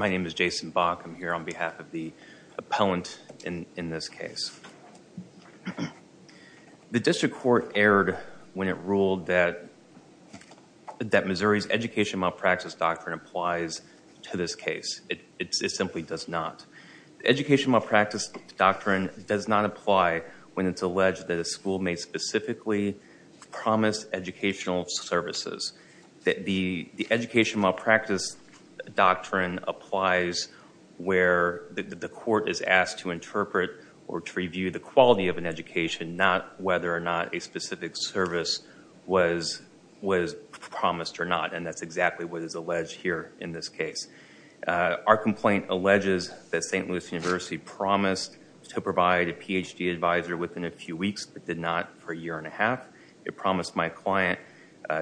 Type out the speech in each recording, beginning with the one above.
My name is Jason Bach. I'm here on behalf of the appellant in this case. The district court erred when it ruled that Missouri's education malpractice doctrine applies to this case. It simply does not. The education malpractice doctrine does not apply when it's alleged that a school may specifically promise educational services. The education malpractice doctrine applies where the court is asked to interpret or to review the quality of an education, not whether or not a specific service was promised or not, and that's exactly what is alleged here in this case. Our complaint alleges that St. Louis University promised to provide a Ph.D. advisor within a few weeks, but did not for a year and a half. It promised my client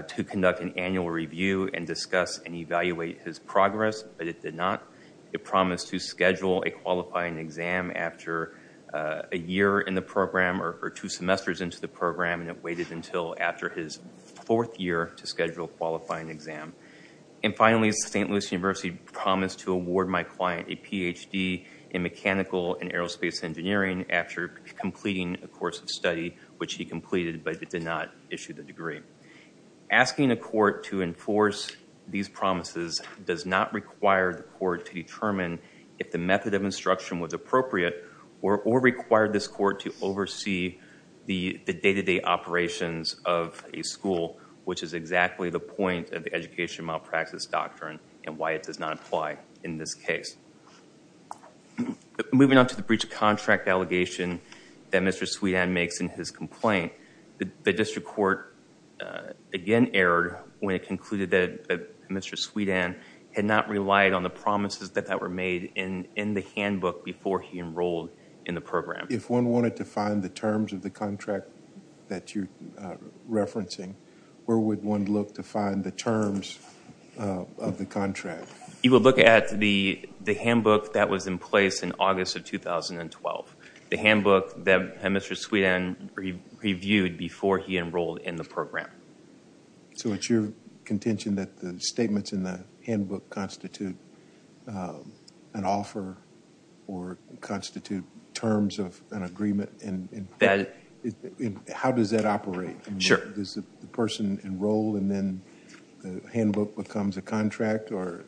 to conduct an annual review and discuss and evaluate his progress, but it did not. It promised to schedule a qualifying exam after a year in the program or two semesters into the program, and it waited until after his fourth year to schedule a qualifying exam. And finally, St. Louis University promised to award my client a Ph.D. in mechanical and aerospace engineering after completing a course of study, which he completed, but did not issue the degree. Asking a court to enforce these promises does not require the court to determine if the method of instruction was appropriate or require this court to oversee the day-to-day operations of a school, which is exactly the point of the education malpractice doctrine and why it does not apply in this case. Moving on to the breach of contract allegation that Mr. Sweetan makes in his complaint, the district court again erred when it concluded that Mr. Sweetan had not relied on the promises that were made in the handbook before he enrolled in the program. If one wanted to find the terms of the contract that you're referencing, where would one look to find the terms of the contract? You would look at the handbook that was in place in August of 2012, the handbook that Mr. Sweetan reviewed before he enrolled in the program. So it's your contention that the statements in the handbook constitute an offer or constitute terms of an agreement? How does that operate? Sure. Does the person enroll and then the handbook becomes a contract? Or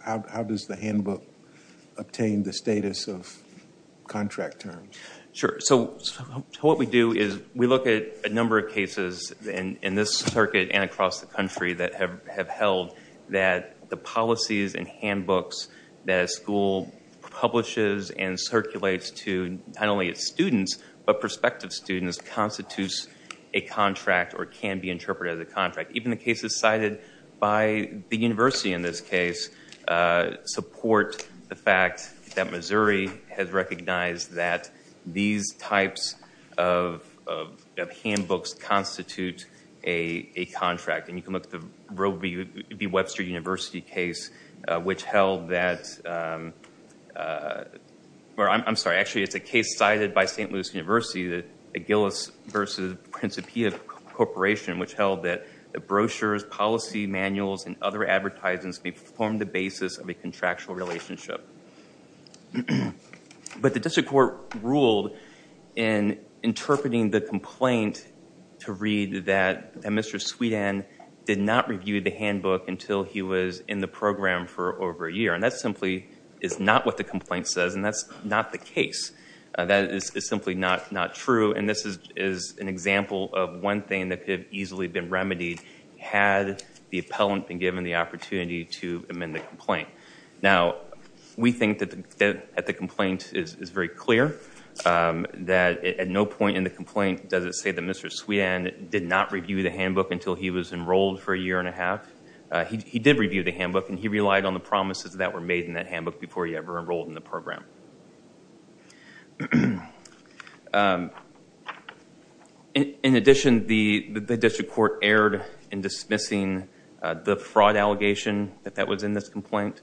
how does the handbook obtain the status of contract terms? Sure. So what we do is we look at a number of cases in this circuit and across the country that have held that the policies and handbooks that a school publishes and circulates to not only its students but prospective students constitutes a contract or can be interpreted as a contract. Even the cases cited by the university in this case support the fact that Missouri has recognized that these types of handbooks constitute a contract. And you can look at the Roe v. Webster University case, which held that – or I'm sorry, actually it's a case cited by St. Louis University, the Gillis v. Principia Corporation, which held that brochures, policy manuals, and other advertisements may form the basis of a contractual relationship. But the district court ruled in interpreting the complaint to read that Mr. Sweetan did not review the handbook until he was in the program for over a year. And that simply is not what the complaint says, and that's not the case. That is simply not true. And this is an example of one thing that could have easily been remedied had the appellant been given the opportunity to amend the complaint. Now, we think that the complaint is very clear, that at no point in the complaint does it say that Mr. Sweetan did not review the handbook until he was enrolled for a year and a half. He did review the handbook, and he relied on the promises that were made in that handbook before he ever enrolled in the program. In addition, the district court erred in dismissing the fraud allegation that was in this complaint.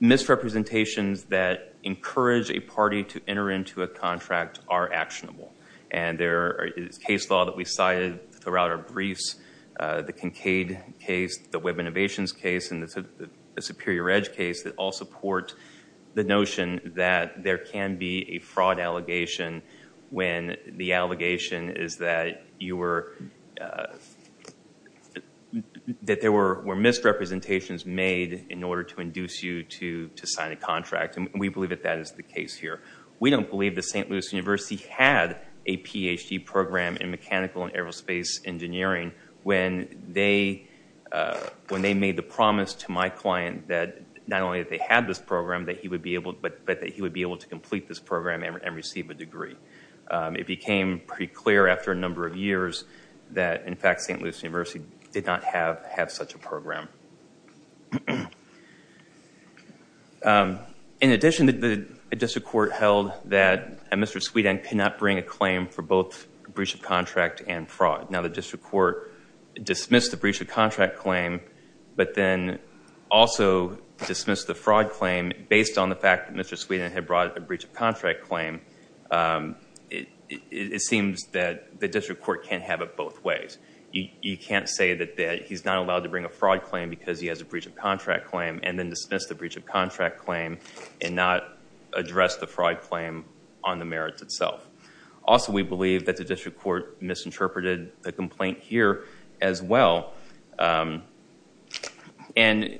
Misrepresentations that encourage a party to enter into a contract are actionable. And there is case law that we cited throughout our briefs, the Kincaid case, the Web Innovations case, and the Superior Edge case that all support the notion that there can be a fraud allegation when the allegation is that there were misrepresentations made in order to induce you to sign a contract. And we believe that that is the case here. We don't believe that St. Louis University had a Ph.D. program in mechanical and aerospace engineering when they made the promise to my client that not only that they had this program, but that he would be able to complete this program and receive a degree. It became pretty clear after a number of years that, in fact, St. Louis University did not have such a program. In addition, the district court held that Mr. Sweetan could not bring a claim for both breach of contract and fraud. Now, the district court dismissed the breach of contract claim, but then also dismissed the fraud claim based on the fact that Mr. Sweetan had brought a breach of contract claim. It seems that the district court can't have it both ways. You can't say that he's not allowed to bring a fraud claim because he has a breach of contract claim, and then dismiss the breach of contract claim and not address the fraud claim on the merits itself. Also, we believe that the district court misinterpreted the complaint here as well. And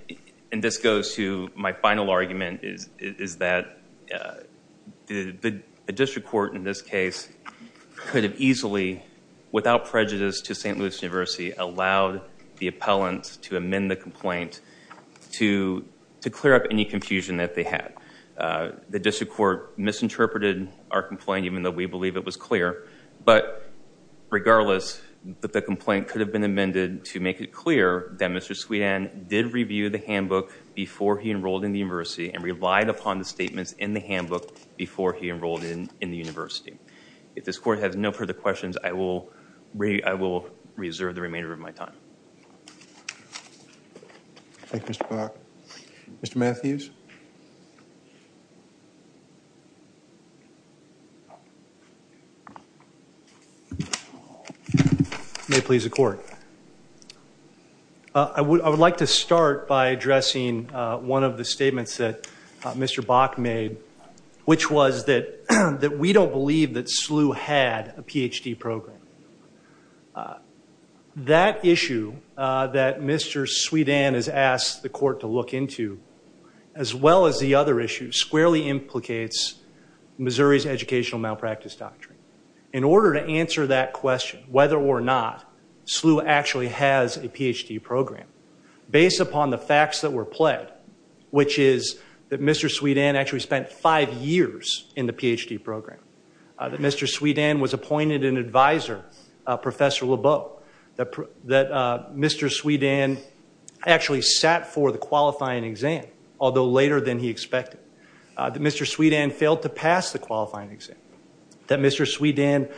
this goes to my final argument, is that the district court in this case could have easily, without prejudice to St. Louis University, allowed the appellant to amend the complaint to clear up any confusion that they had. The district court misinterpreted our complaint, even though we believe it was clear. But regardless, the complaint could have been amended to make it clear that Mr. Sweetan did review the handbook before he enrolled in the university and relied upon the statements in the handbook before he enrolled in the university. If this court has no further questions, I will reserve the remainder of my time. Thank you, Mr. Block. Mr. Matthews. May it please the court. I would like to start by addressing one of the statements that Mr. Bock made, which was that we don't believe that SLU had a PhD program. That issue that Mr. Sweetan has asked the court to look into, as well as the other issues, squarely implicates Missouri's educational malpractice doctrine. In order to answer that question, whether or not SLU actually has a PhD program, based upon the facts that were pled, which is that Mr. Sweetan actually spent five years in the PhD program, that Mr. Sweetan was appointed an advisor, Professor Lebeau, that Mr. Sweetan actually sat for the qualifying exam, although later than he expected, that Mr. Sweetan failed to pass the qualifying exam, that Mr. Sweetan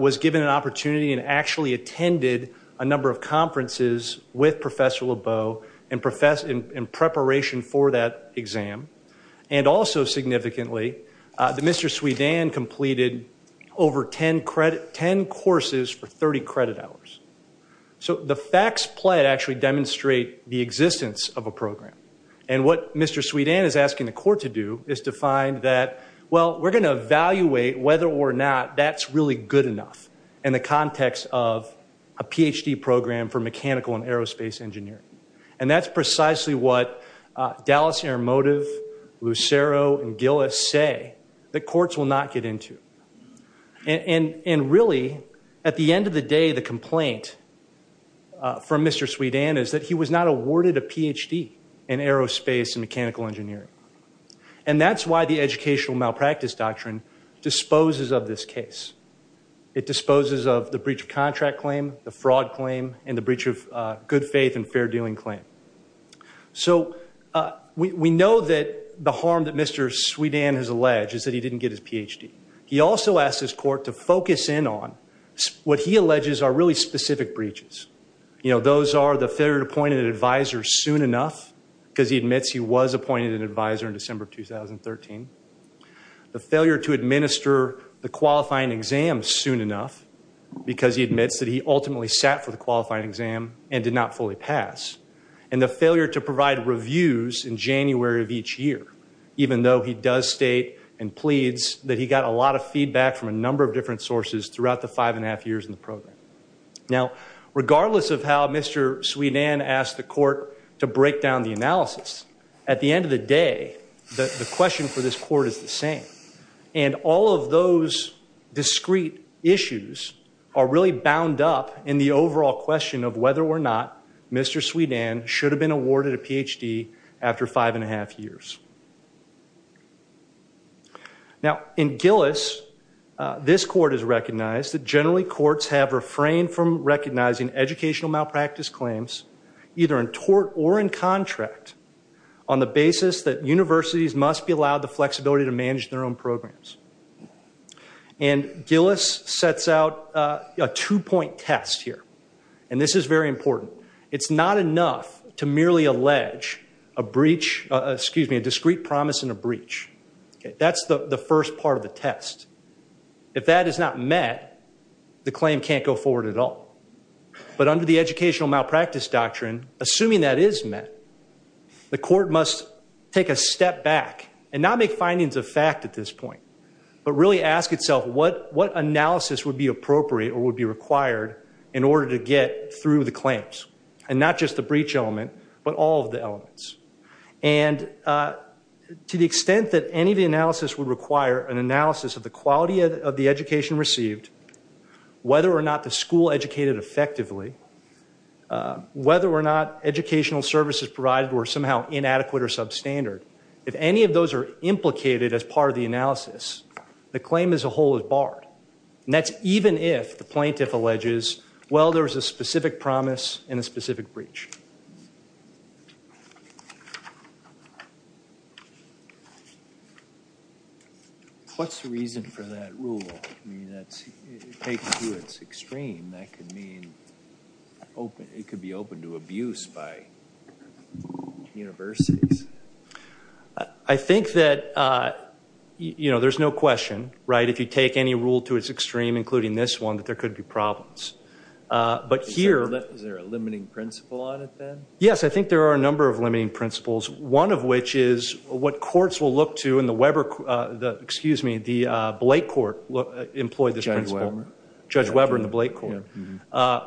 was given an opportunity and actually attended a number of conferences with Professor Lebeau in preparation for that exam, and also significantly, that Mr. Sweetan completed over 10 courses for 30 credit hours. So the facts pled actually demonstrate the existence of a program. And what Mr. Sweetan is asking the court to do is to find that, well, we're going to evaluate whether or not that's really good enough in the context of a PhD program for mechanical and aerospace engineering. And that's precisely what Dallas Intermotive, Lucero, and Gillis say that courts will not get into. And really, at the end of the day, the complaint from Mr. Sweetan is that he was not awarded a PhD in aerospace and mechanical engineering. And that's why the educational malpractice doctrine disposes of this case. It disposes of the breach of contract claim, the fraud claim, and the breach of good faith and fair dealing claim. So we know that the harm that Mr. Sweetan has alleged is that he didn't get his PhD. He also asked his court to focus in on what he alleges are really specific breaches. You know, those are the failure to appoint an advisor soon enough, because he admits he was appointed an advisor in December of 2013. The failure to administer the qualifying exam soon enough, because he admits that he ultimately sat for the qualifying exam and did not fully pass. And the failure to provide reviews in January of each year, even though he does state and pleads that he got a lot of feedback from a number of different sources throughout the five and a half years in the program. Now, regardless of how Mr. Sweetan asked the court to break down the analysis, at the end of the day, the question for this court is the same. And all of those discrete issues are really bound up in the overall question of whether or not Mr. Sweetan should have been awarded a PhD after five and a half years. Now, in Gillis, this court has recognized that generally courts have refrained from recognizing educational malpractice claims, either in tort or in contract, on the basis that universities must be allowed the flexibility to manage their own programs. And Gillis sets out a two-point test here. And this is very important. It's not enough to merely allege a discrete promise and a breach. That's the first part of the test. If that is not met, the claim can't go forward at all. But under the educational malpractice doctrine, assuming that is met, the court must take a step back and not make findings of fact at this point, but really ask itself what analysis would be appropriate or would be required in order to get through the claims, and not just the breach element, but all of the elements. And to the extent that any of the analysis would require an analysis of the quality of the education received, whether or not the school educated effectively, whether or not educational services provided were somehow inadequate or substandard, if any of those are implicated as part of the analysis, the claim as a whole is barred. And that's even if the plaintiff alleges, well, there's a specific promise and a specific breach. What's the reason for that rule? I mean, that's taken to its extreme. That could mean it could be open to abuse by universities. I think that, you know, there's no question, right, if you take any rule to its extreme, including this one, that there could be problems. Is there a limiting principle on it then? Yes, I think there are a number of limiting principles, one of which is what courts will look to, and the Weber, excuse me, the Blake court employed this principle. Judge Weber. Judge Weber and the Blake court,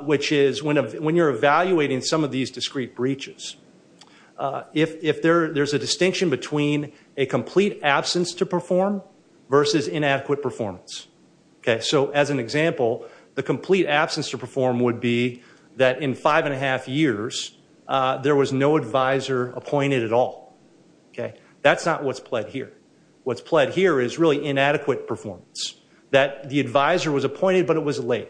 which is when you're evaluating some of these discrete breaches, if there's a distinction between a complete absence to perform versus inadequate performance. Okay. So as an example, the complete absence to perform would be that in five and a half years, there was no advisor appointed at all. Okay. That's not what's pled here. What's pled here is really inadequate performance, that the advisor was appointed, but it was late.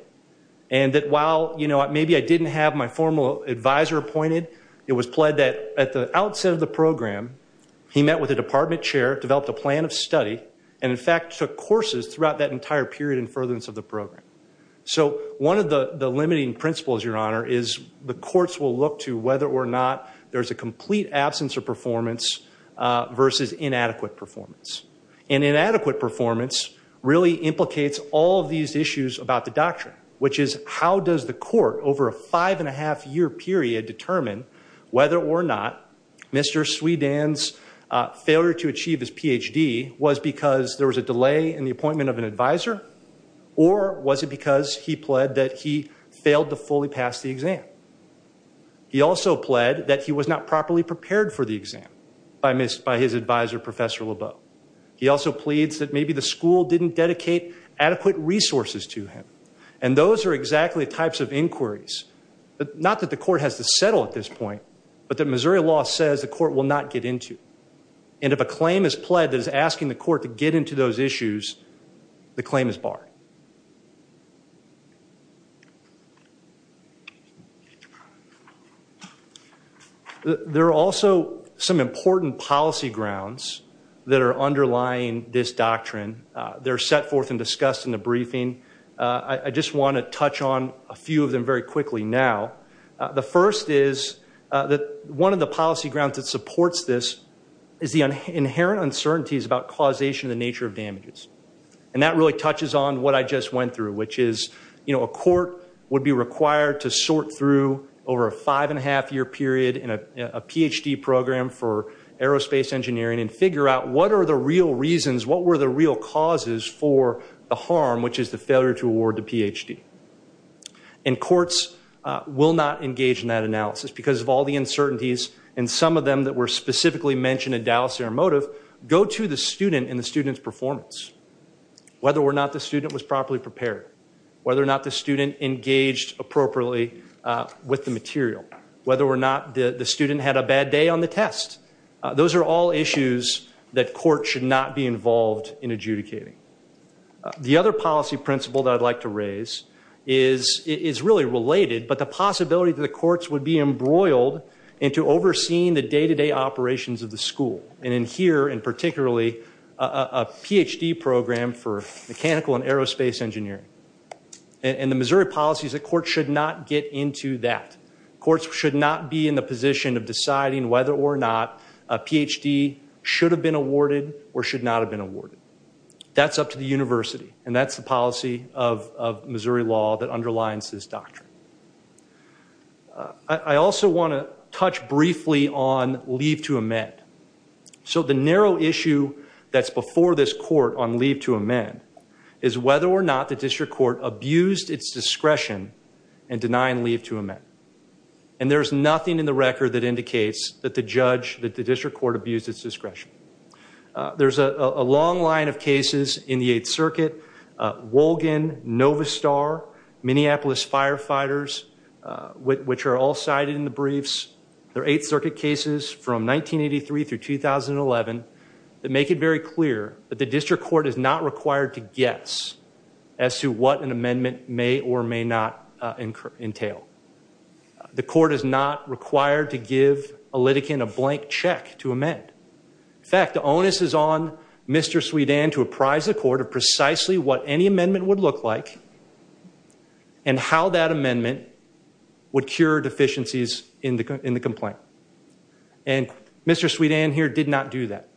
And that while, you know, maybe I didn't have my formal advisor appointed, it was pled that at the outset of the program, he met with the department chair, developed a plan of study, and in fact took courses throughout that entire period in furtherance of the program. So one of the limiting principles, Your Honor, is the courts will look to whether or not there's a complete absence of performance versus inadequate performance. And inadequate performance really implicates all of these issues about the doctrine, which is how does the court over a five and a half year period determine whether or not Mr. Sui Dan's failure to achieve his Ph.D. was because there was a delay in the appointment of an advisor, or was it because he pled that he failed to fully pass the exam? He also pled that he was not properly prepared for the exam by his advisor, Professor Lebeau. He also pleads that maybe the school didn't dedicate adequate resources to him. And those are exactly the types of inquiries, not that the court has to settle at this point, but that Missouri law says the court will not get into. And if a claim is pled that is asking the court to get into those issues, the claim is barred. There are also some important policy grounds that are underlying this doctrine. They're set forth and discussed in the briefing. I just want to touch on a few of them very quickly now. The first is that one of the policy grounds that supports this is the inherent uncertainties about causation of the nature of damages. And that really touches on what I just went through, which is a court would be required to sort through over a five and a half year period in a Ph.D. program for aerospace engineering and figure out what are the real reasons, what were the real causes for the harm, which is the failure to award the Ph.D. And courts will not engage in that analysis because of all the uncertainties. And some of them that were specifically mentioned in Dallas Aeromotive go to the student and the student's performance, whether or not the student was properly prepared, whether or not the student engaged appropriately with the material, whether or not the student had a bad day on the test. Those are all issues that courts should not be involved in adjudicating. The other policy principle that I'd like to raise is really related, but the possibility that the courts would be embroiled into overseeing the day-to-day operations of the school. And in here, and particularly a Ph.D. program for mechanical and aerospace engineering. And the Missouri policy is that courts should not get into that. Courts should not be in the position of deciding whether or not a Ph.D. should have been awarded or should not have been awarded. That's up to the university, and that's the policy of Missouri law that underlines this doctrine. I also want to touch briefly on leave to amend. So the narrow issue that's before this court on leave to amend is whether or not the district court abused its discretion in denying leave to amend. And there's nothing in the record that indicates that the judge, that the district court abused its discretion. There's a long line of cases in the Eighth Circuit. Wolgin, Novastar, Minneapolis Firefighters, which are all cited in the briefs. They're Eighth Circuit cases from 1983 through 2011 that make it very clear that the district court is not required to guess as to what an amendment may or may not entail. The court is not required to give a litigant a blank check to amend. In fact, the onus is on Mr. Sweetan to apprise the court of precisely what any amendment would look like and how that amendment would cure deficiencies in the complaint. And Mr. Sweetan here did not do that.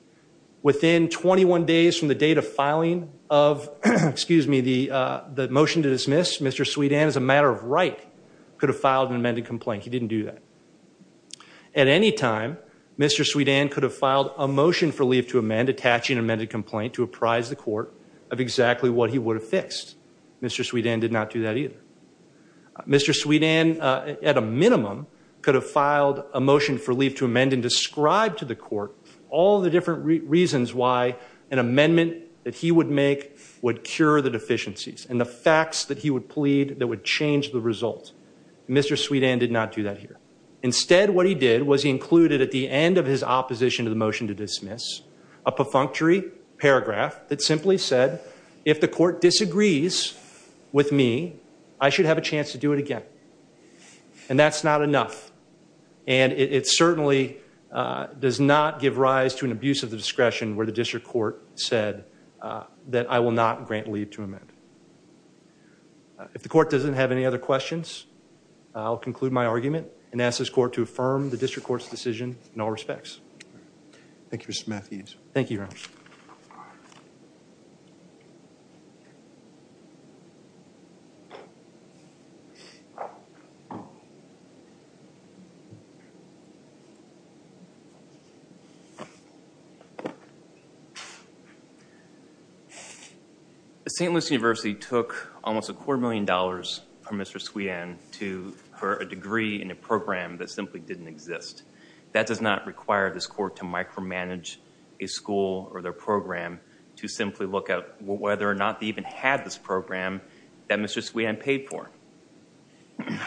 Within 21 days from the date of filing of the motion to dismiss, Mr. Sweetan, as a matter of right, could have filed an amended complaint. He didn't do that. At any time, Mr. Sweetan could have filed a motion for leave to amend attaching an amended complaint to apprise the court of exactly what he would have fixed. Mr. Sweetan did not do that either. Mr. Sweetan, at a minimum, could have filed a motion for leave to amend and describe to the court all the different reasons why an amendment that he would make would cure the deficiencies and the facts that he would plead that would change the result. Mr. Sweetan did not do that here. Instead, what he did was he included at the end of his opposition to the motion to dismiss a perfunctory paragraph that simply said, if the court disagrees with me, I should have a chance to do it again. And that's not enough. And it certainly does not give rise to an abuse of the discretion where the district court said that I will not grant leave to amend. If the court doesn't have any other questions, I'll conclude my argument and ask this court to affirm the district court's decision in all respects. Thank you, Mr. Matthews. Thank you. St. Louis University took almost a quarter million dollars from Mr. Sweetan for a degree in a program that simply didn't exist. That does not require this court to micromanage a school or their program to simply look at whether or not they even had this program that Mr. Sweetan paid for.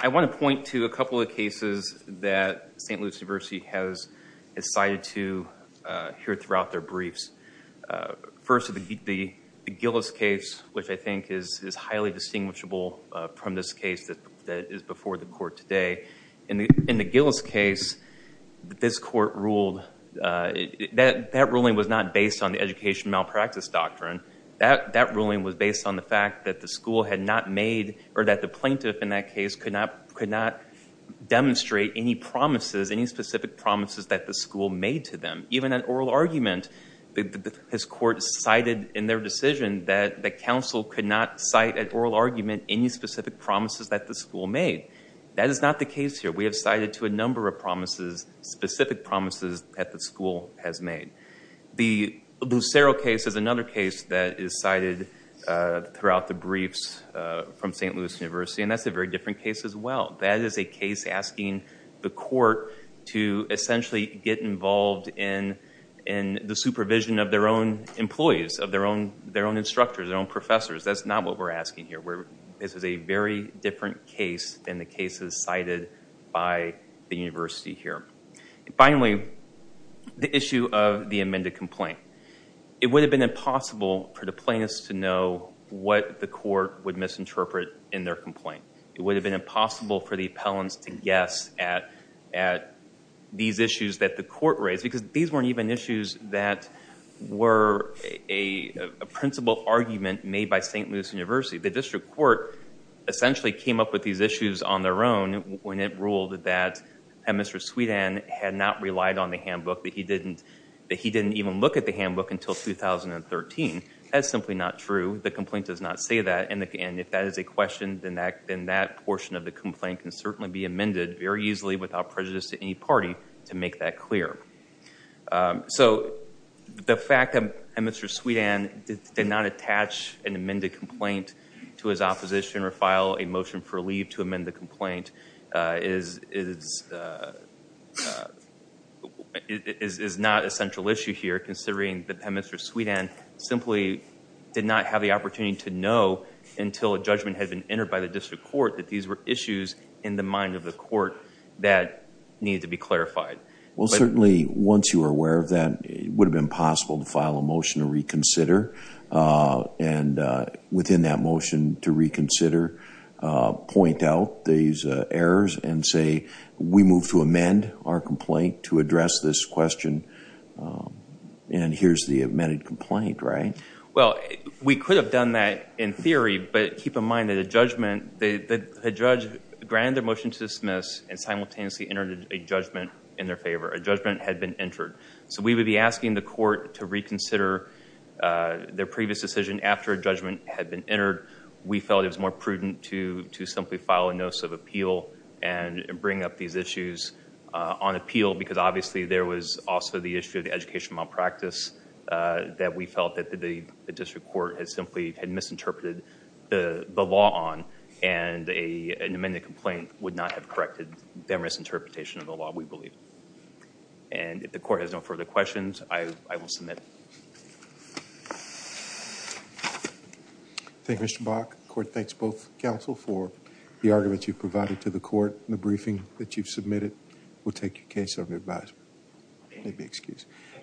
I want to point to a couple of cases that St. Louis University has decided to hear throughout their briefs. First, the Gillis case, which I think is highly distinguishable from this case that is before the court today. In the Gillis case, this court ruled that that ruling was not based on the education malpractice doctrine. That ruling was based on the fact that the school had not made, or that the plaintiff in that case could not demonstrate any promises, any specific promises that the school made to them. Even at oral argument, this court cited in their decision that the council could not cite at oral argument any specific promises that the school made. That is not the case here. We have cited to a number of promises, specific promises that the school has made. The Lucero case is another case that is cited throughout the briefs from St. Louis University, and that's a very different case as well. That is a case asking the court to essentially get involved in the supervision of their own employees, of their own instructors, their own professors. That's not what we're asking here. This is a very different case than the cases cited by the university here. Finally, the issue of the amended complaint. It would have been impossible for the plaintiffs to know what the court would misinterpret in their complaint. It would have been impossible for the appellants to guess at these issues that the court raised, because these weren't even issues that were a principal argument made by St. Louis University. The district court essentially came up with these issues on their own when it ruled that Mr. Sweetan had not relied on the handbook, that he didn't even look at the handbook until 2013. That's simply not true. The complaint does not say that, and if that is a question, then that portion of the complaint can certainly be amended very easily without prejudice to any party to make that clear. The fact that Mr. Sweetan did not attach an amended complaint to his opposition or file a motion for leave to amend the complaint is not a central issue here, considering that Mr. Sweetan simply did not have the opportunity to know until a judgment had been entered by the district court that these were issues in the mind of the court that needed to be clarified. Well, certainly, once you are aware of that, it would have been possible to file a motion to reconsider, and within that motion to reconsider, point out these errors and say, we move to amend our complaint to address this question, and here's the amended complaint, right? Well, we could have done that in theory, but keep in mind that the judge granted their motion to dismiss and simultaneously entered a judgment in their favor. A judgment had been entered. So we would be asking the court to reconsider their previous decision after a judgment had been entered. We felt it was more prudent to simply file a notice of appeal and bring up these issues on appeal because obviously there was also the issue of the education malpractice that we felt that the district court had simply misinterpreted the law on, and an amended complaint would not have corrected their misinterpretation of the law, we believe. And if the court has no further questions, I will submit. Thank you. Thank you, Mr. Bach. The court thanks both counsel for the arguments you provided to the court. The briefing that you've submitted will take your case under advisement. If you'll excuse me.